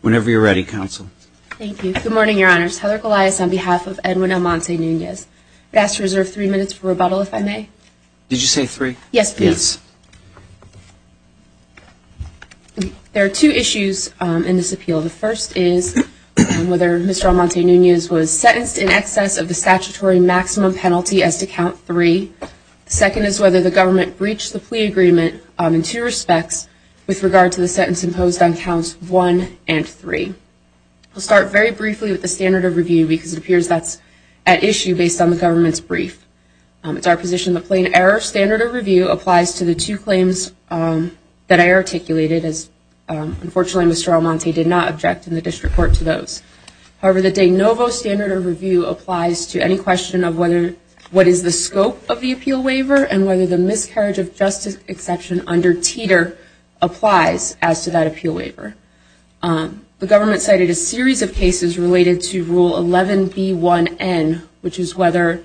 Whenever you're ready, Counsel. Thank you. Good morning, Your Honors. Heather Goliath on behalf of Edwin Almonte-Nunez. I'd ask to reserve three minutes for rebuttal, if There are two issues in this appeal. The first is whether Mr. Almonte-Nunez was sentenced in excess of the statutory maximum penalty as to count three. The second is whether the government breached the plea agreement in two respects with regard to the sentence imposed on counts one and three. I'll start very briefly with the standard of review because it appears that's at issue based on the government's brief. It's our position the plain error standard of review applies to the two claims that I articulated as unfortunately Mr. Almonte-Nunez did not object in the district court to those. However, the de novo standard of review applies to any question of whether what is the scope of the appeal waiver and whether the miscarriage of justice exception under Teeter applies as to that appeal waiver. The government cited a series of cases related to Rule 11B1N, which is whether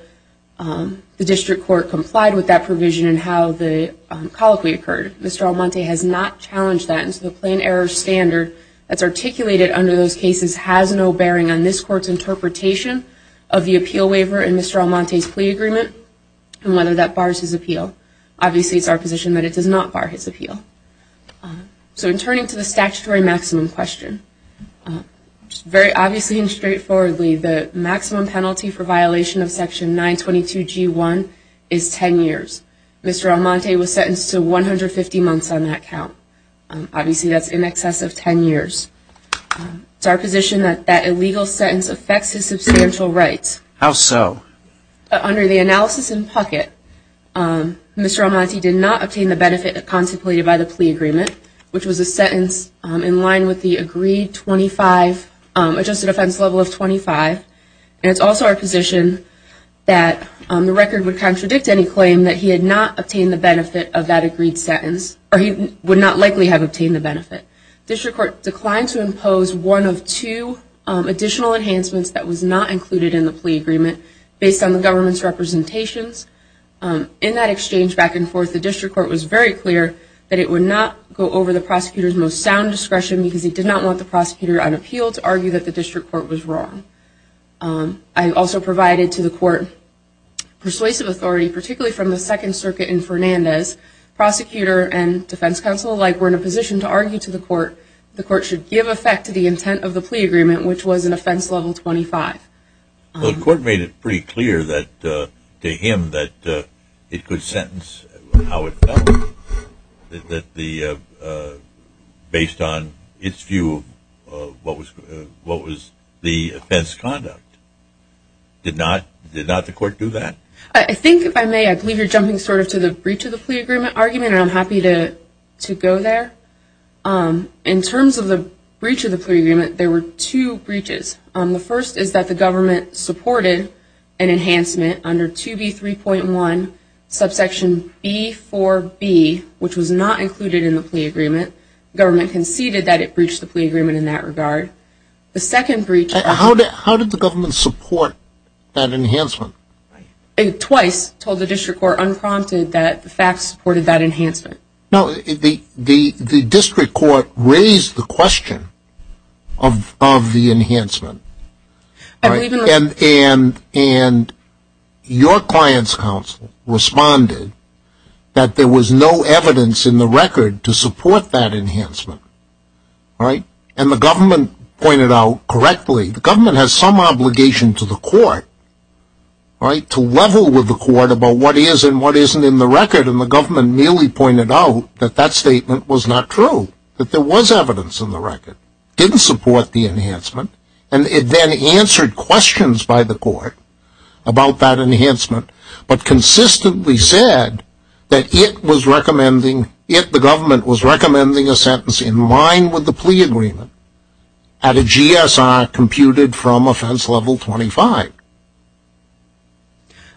the district court complied with that provision and how the colloquy occurred. Mr. Almonte-Nunez has not challenged that and so the plain error standard that's articulated under those cases has no bearing on this court's interpretation of the appeal waiver and Mr. Almonte-Nunez's plea agreement and whether that bars his appeal. Obviously, it's our position that it does not bar his appeal. So in turning to the statutory maximum question, very obviously and straightforwardly the maximum penalty for violation of Section 922G1 is 10 years. Mr. Almonte-Nunez was sentenced to 150 months on that count. Obviously, that's in excess of 10 years. It's our position that that illegal sentence affects his substantial rights. How so? Under the analysis in Puckett, Mr. Almonte-Nunez did not obtain the benefit contemplated by the plea agreement, which is also our position that the record would contradict any claim that he had not obtained the benefit of that agreed sentence or he would not likely have obtained the benefit. District Court declined to impose one of two additional enhancements that was not included in the plea agreement based on the government's representations. In that exchange back and forth, the district court was very clear that it would not go over the prosecutor's most sound discretion because he did not want the prosecutor on appeal to argue that the district court was wrong. I also provided to the court persuasive authority, particularly from the Second Circuit in Fernandez. Prosecutor and defense counsel alike were in a position to argue to the court the court should give effect to the intent of the plea agreement, which was an offense level 25. The court made it pretty clear that to him that it could sentence how it felt based on its view of what was the offense conduct. Did not the court do that? I think if I may, I believe you're jumping sort of to the breach of the plea agreement argument and I'm happy to go there. In terms of the breach of the plea agreement, there were two breaches. The first is that the government supported an enhancement under 2B3.1, subsection B4B, which was not included in the plea agreement. The government conceded that it breached the plea agreement in that regard. The second breach... How did the government support that enhancement? It twice told the district court unprompted that the facts supported that enhancement. Now, the district court raised the question of the enhancement and your client's counsel responded that there was no evidence in the record to support that enhancement. And the government pointed out correctly, the government has some obligation to the court to level with the court about what is and what isn't in the record and the government merely pointed out that that statement was not true. That there was evidence in the record. Didn't support the enhancement. And it then answered questions by the court about that enhancement, but consistently said that it was recommending, it, the government, was recommending a sentence in line with the plea agreement at a GSR computed from offense level 25.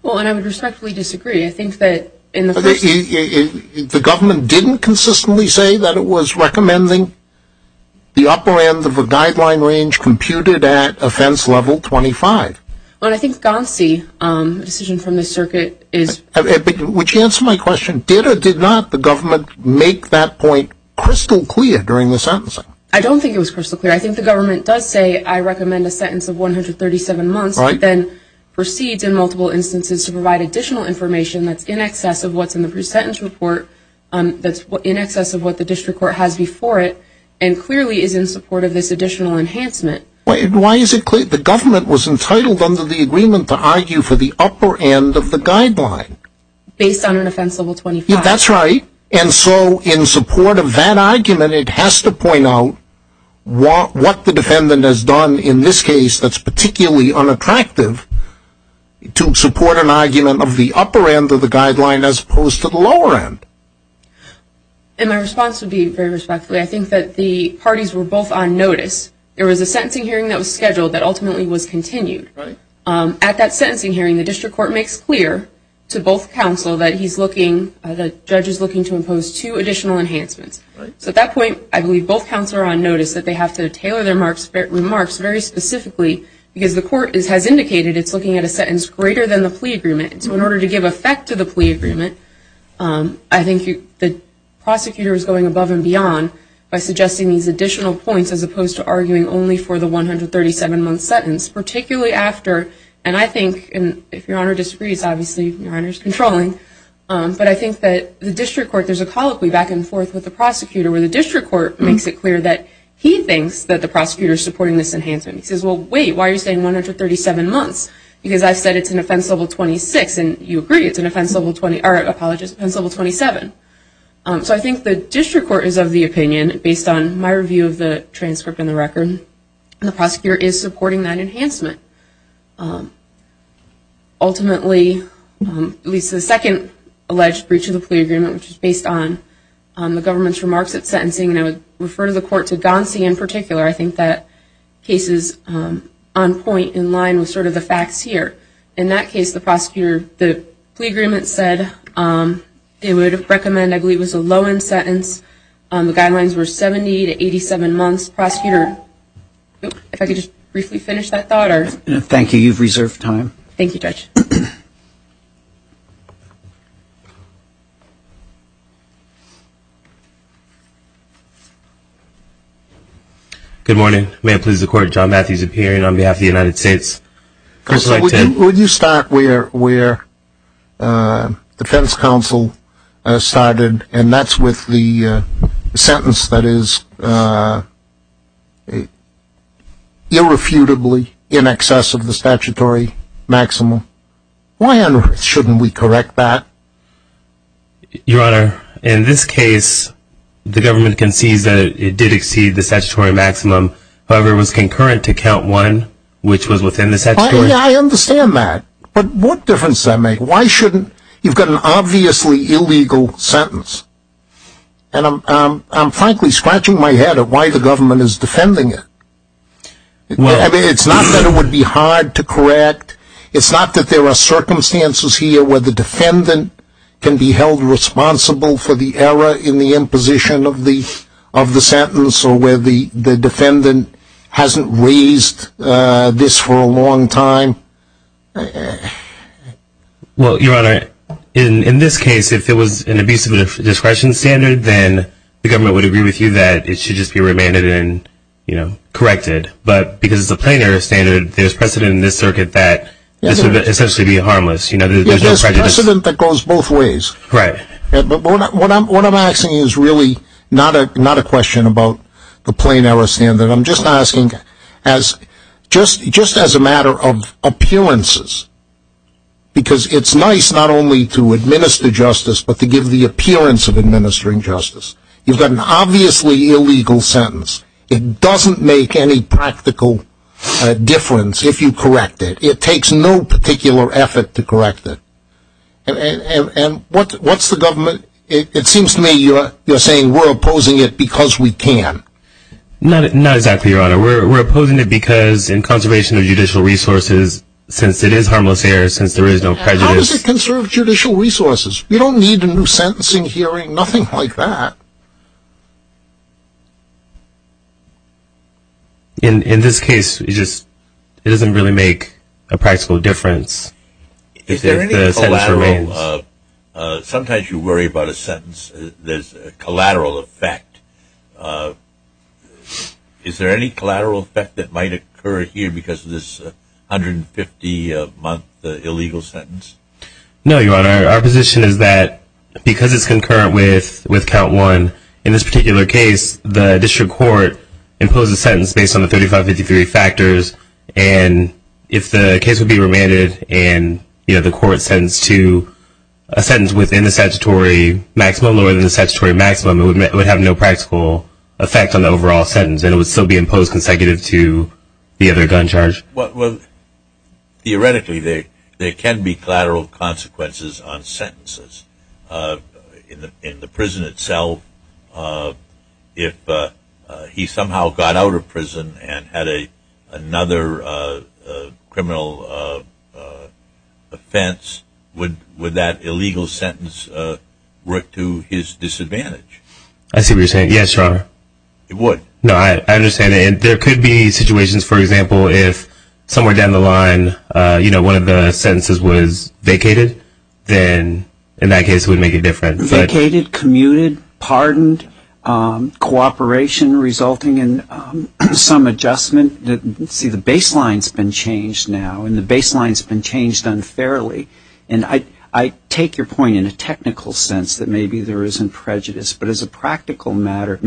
Well, and I would respectfully disagree. I think that in the first... The government didn't consistently say that it was recommending the upper end of a guideline range computed at offense level 25. Well, I think GANSI, a decision from the circuit, is... But would you answer my question, did or did not the government make that point crystal clear during the sentencing? I don't think it was crystal clear. I think the government does say, I recommend a sentence of 137 months, then proceeds in multiple instances to provide additional information that's in excess of what's in the pre-sentence report, that's in excess of what the district court has before it, and clearly is in support of this additional enhancement. Why is it clear? The government was entitled under the agreement to argue for the upper end of the guideline. Based on an offense level 25. That's right. And so, in support of that argument, it has to point out what the defendant has done in this case that's particularly unattractive to support an argument of the upper end of the guideline as opposed to the lower end. And my response would be very respectfully, I think that the parties were both on notice. There was a sentencing hearing that was scheduled that ultimately was continued. At that sentencing hearing, the district court makes clear to both counsel that he's looking... The judge is looking to impose two additional enhancements. So at that point, I believe both counsel are on notice that they have to tailor their remarks very specifically because the court has indicated it's looking at a sentence greater than the plea agreement. So in order to give effect to the plea agreement, I think the prosecutor is going above and beyond by suggesting these additional points as opposed to arguing only for the 137-month sentence, particularly after... And I think, and if Your Honor disagrees, obviously Your Honor's controlling, but I think that the district court, there's a colloquy back and forth with the prosecutor where the district court makes it clear that he thinks that the prosecutor is supporting this enhancement. He says, well, wait, why are you saying 137 months? Because I've said it's an offense level 26, and you agree it's an offense level 27. So I think the district court is of the opinion, based on my review of the transcript and the record, the prosecutor is supporting that enhancement. Ultimately, at least the second alleged breach of the plea agreement, which is based on the government's remarks at sentencing, and I would refer to the court, to Gonsi in particular, I think that case is on point, in line with sort of the facts here. In that case, the prosecutor, the plea agreement said they would recommend, I believe it was a low-end sentence. The guidelines were 70 to 87 months. If I could just briefly finish that thought. Thank you. You've reserved time. Thank you, Judge. Good morning. May it please the Court, John Matthews appearing on behalf of the United States. Would you start where the defense counsel started, and that's with the sentence that is irrefutably in excess of the statutory maximum. Why on earth shouldn't we correct that? Your Honor, in this case, the government concedes that it did exceed the statutory maximum. However, it was concurrent to count one, which was within the statutory. I understand that. But what difference does that make? You've got an obviously illegal sentence. And I'm frankly scratching my head at why the government is defending it. It's not that it would be hard to correct. It's not that there are circumstances here where the defendant can be held responsible for the error in the imposition of the sentence, or where the defendant hasn't raised this for a long time. Well, Your Honor, in this case, if it was an abuse of discretion standard, then the government would agree with you that it should just be remanded and corrected. But because it's a plain error standard, there's precedent in this circuit that this would essentially be harmless. There's precedent that goes both ways. Right. But what I'm asking is really not a question about the plain error standard. I'm just asking just as a matter of appearances, because it's nice not only to administer justice, but to give the appearance of administering justice. You've got an obviously illegal sentence. It doesn't make any practical difference if you correct it. It takes no particular effort to correct it. And what's the government? It seems to me you're saying we're opposing it because we can. Not exactly, Your Honor. We're opposing it because in conservation of judicial resources, since it is harmless error, since there is no prejudice. How does it conserve judicial resources? You don't need a new sentencing hearing, nothing like that. In this case, it doesn't really make a practical difference if the sentence remains. Sometimes you worry about a sentence. There's a collateral effect. Is there any collateral effect that might occur here because of this 150-month illegal sentence? No, Your Honor. Our position is that because it's concurrent with count one, in this particular case, the district court imposed a sentence based on the 3553 factors. And if the case would be remanded and the court sentenced to a sentence within the statutory maximum, lower than the statutory maximum, it would have no practical effect on the overall sentence and it would still be imposed consecutive to the other gun charge. Theoretically, there can be collateral consequences on sentences. In the prison itself, if he somehow got out of prison and had another criminal offense, would that illegal sentence work to his disadvantage? I see what you're saying. Yes, Your Honor. It would. No, I understand. And there could be situations, for example, if somewhere down the line, you know, one of the sentences was vacated, then in that case it would make a difference. Vacated, commuted, pardoned, cooperation resulting in some adjustment. See, the baseline's been changed now and the baseline's been changed unfairly. And I take your point in a technical sense that maybe there isn't prejudice. But as a practical matter,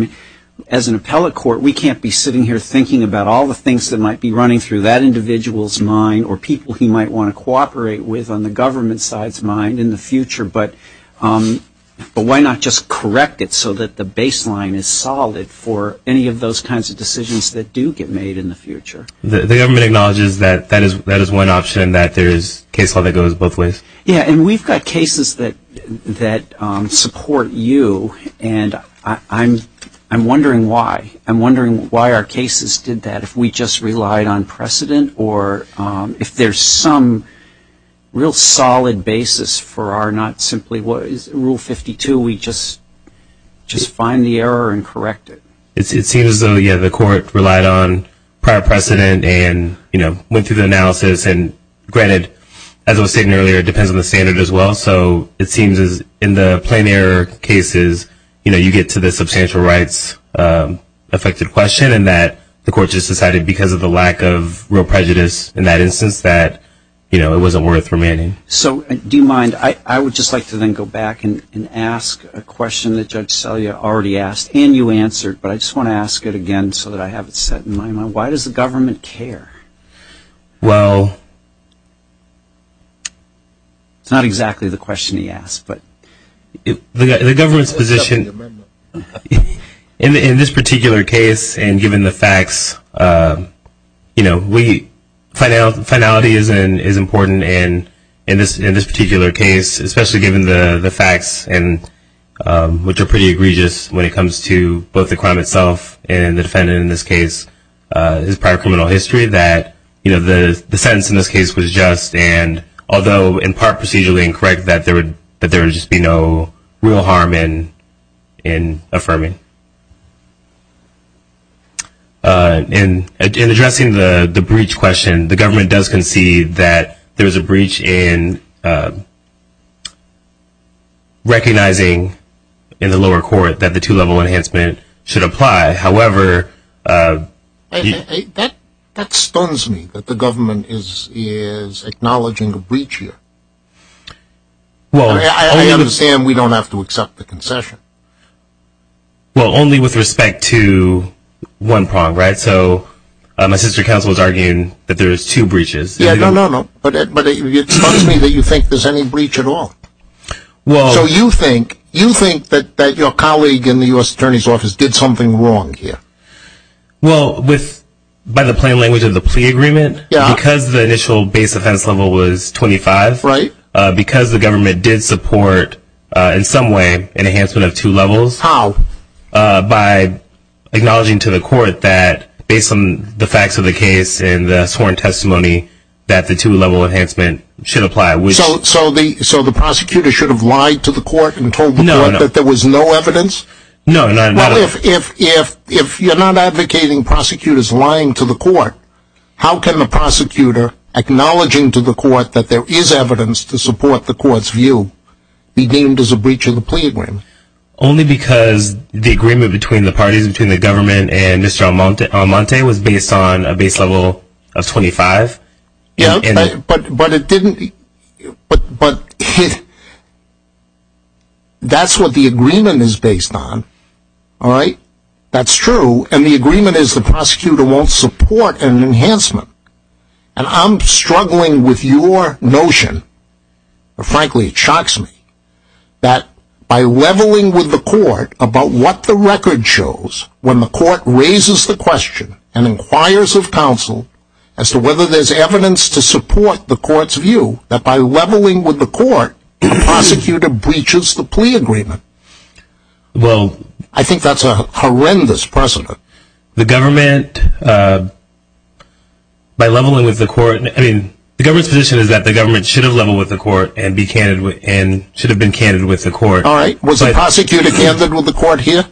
as an appellate court, we can't be sitting here thinking about all the things that might be running through that individual's mind or people he might want to cooperate with on the government side's mind in the future. But why not just correct it so that the baseline is solid for any of those kinds of decisions that do get made in the future? The government acknowledges that that is one option, that there is case law that goes both ways. Yeah, and we've got cases that support you, and I'm wondering why. Why our cases did that, if we just relied on precedent, or if there's some real solid basis for our not simply rule 52, we just find the error and correct it. It seems as though, yeah, the court relied on prior precedent and, you know, went through the analysis. And granted, as I was stating earlier, it depends on the standard as well. Also, it seems as in the plain error cases, you know, you get to the substantial rights affected question and that the court just decided because of the lack of real prejudice in that instance that, you know, it wasn't worth remaining. So do you mind, I would just like to then go back and ask a question that Judge Selya already asked and you answered, but I just want to ask it again so that I have it set in my mind. Why does the government care? Well, it's not exactly the question he asked. The government's position in this particular case, and given the facts, you know, finality is important in this particular case, especially given the facts, which are pretty egregious when it comes to both the crime itself and the defendant in this case, his prior criminal history, that, you know, the sentence in this case was just, and although in part procedurally incorrect, that there would just be no real harm in affirming. In addressing the breach question, the government does concede that there is a breach in recognizing in the lower court that the two-level enhancement should apply. However, That stuns me that the government is acknowledging a breach here. I understand we don't have to accept the concession. Well, only with respect to one prong, right? So my sister counsel was arguing that there is two breaches. Yeah, no, no, no. But it stuns me that you think there's any breach at all. So you think that your colleague in the U.S. Attorney's Office did something wrong here? Well, by the plain language of the plea agreement, because the initial base offense level was 25, because the government did support, in some way, an enhancement of two levels, by acknowledging to the court that based on the facts of the case and the sworn testimony, that the two-level enhancement should apply. So the prosecutor should have lied to the court and told the court that there was no evidence? No. Well, if you're not advocating prosecutors lying to the court, how can the prosecutor acknowledging to the court that there is evidence to support the court's view be deemed as a breach of the plea agreement? Only because the agreement between the parties, between the government and Mr. Almonte, was based on a base level of 25. Yeah, but that's what the agreement is based on. All right? That's true. And the agreement is the prosecutor won't support an enhancement. And I'm struggling with your notion, and frankly it shocks me, that by leveling with the court about what the record shows, when the court raises the question and inquires of counsel as to whether there's evidence to support the court's view, that by leveling with the court, the prosecutor breaches the plea agreement. Well. I think that's a horrendous precedent. The government, by leveling with the court, I mean, the government's position is that the government should have leveled with the court and should have been candid with the court. All right. Was the prosecutor candid with the court here?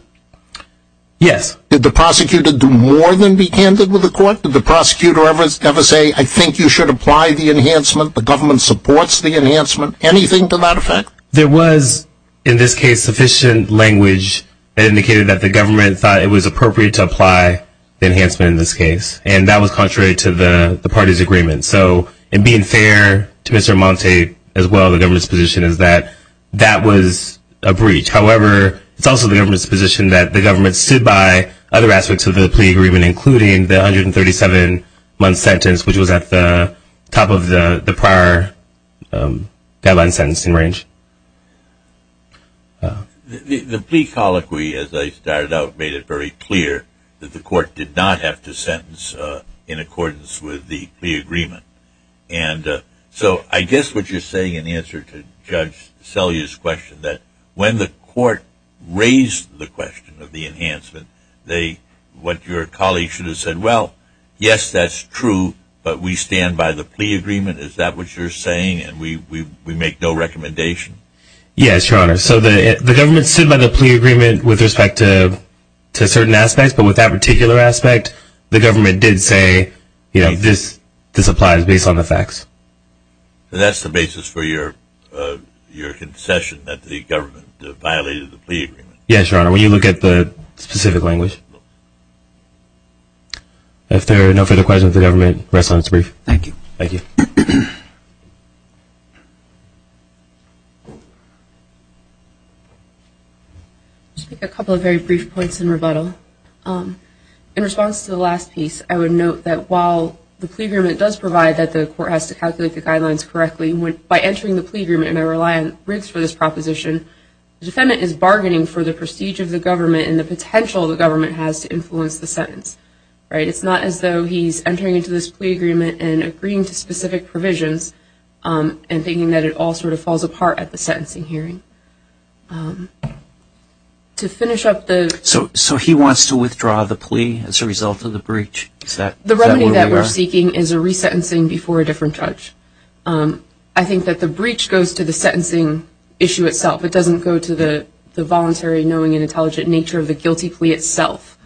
Yes. Did the prosecutor do more than be candid with the court? Did the prosecutor ever say, I think you should apply the enhancement, the government supports the enhancement, anything to that effect? There was, in this case, sufficient language that indicated that the government thought it was appropriate to apply the enhancement in this case. And that was contrary to the party's agreement. So, in being fair to Mr. Almonte as well, the government's position is that that was a breach. However, it's also the government's position that the government stood by other aspects of the plea agreement, including the 137-month sentence, which was at the top of the prior guideline sentencing range. The plea colloquy, as I started out, made it very clear that the court did not have to sentence in accordance with the plea agreement. And so I guess what you're saying in answer to Judge Selye's question, that when the court raised the question of the enhancement, what your colleague should have said, well, yes, that's true, but we stand by the plea agreement. Is that what you're saying? And we make no recommendation? Yes, Your Honor. So the government stood by the plea agreement with respect to certain aspects, but with that particular aspect, the government did say, you know, this applies based on the facts. So that's the basis for your concession that the government violated the plea agreement? Yes, Your Honor. When you look at the specific language. If there are no further questions, the government rests on its brief. Thank you. Thank you. I'll just make a couple of very brief points in rebuttal. In response to the last piece, I would note that while the plea agreement does provide that the court has to calculate the guidelines correctly, by entering the plea agreement, and I rely on Riggs for this proposition, the defendant is bargaining for the prestige of the government and the potential the government has to influence the sentence. It's not as though he's entering into this plea agreement and agreeing to specific provisions and thinking that it all sort of falls apart at the sentencing hearing. So he wants to withdraw the plea as a result of the breach? The remedy that we're seeking is a resentencing before a different judge. I think that the breach goes to the sentencing issue itself. It doesn't go to the voluntary, knowing, and intelligent nature of the guilty plea itself.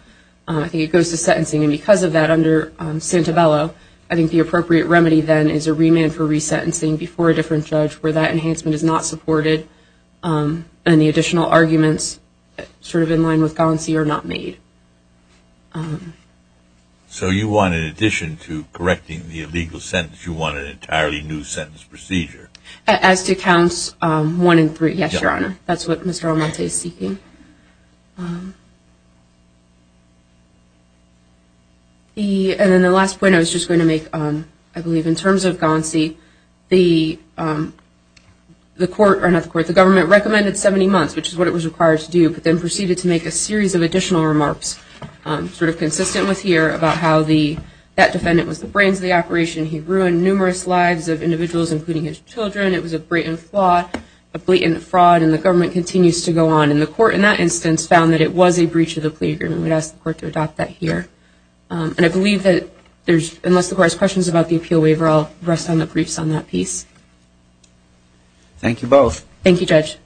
I think it goes to sentencing, and because of that, under Santabello, I think the appropriate remedy then is a remand for resentencing before a different judge where that enhancement is not supported, and the additional arguments sort of in line with Concie are not made. So you want, in addition to correcting the illegal sentence, you want an entirely new sentence procedure? As to counts one and three, yes, Your Honor. That's what Mr. Almonte is seeking. And then the last point I was just going to make, I believe, in terms of Concie, the government recommended 70 months, which is what it was required to do, but then proceeded to make a series of additional remarks sort of consistent with here about how that defendant was the brains of the operation. He ruined numerous lives of individuals, including his children. It was a blatant fraud, and the government continues to go on. And the court, in that instance, found that it was a breach of the plea agreement. We'd ask the court to adopt that here. And I believe that unless the court has questions about the appeal waiver, I'll rest on the briefs on that piece. Thank you both. Thank you, Judge.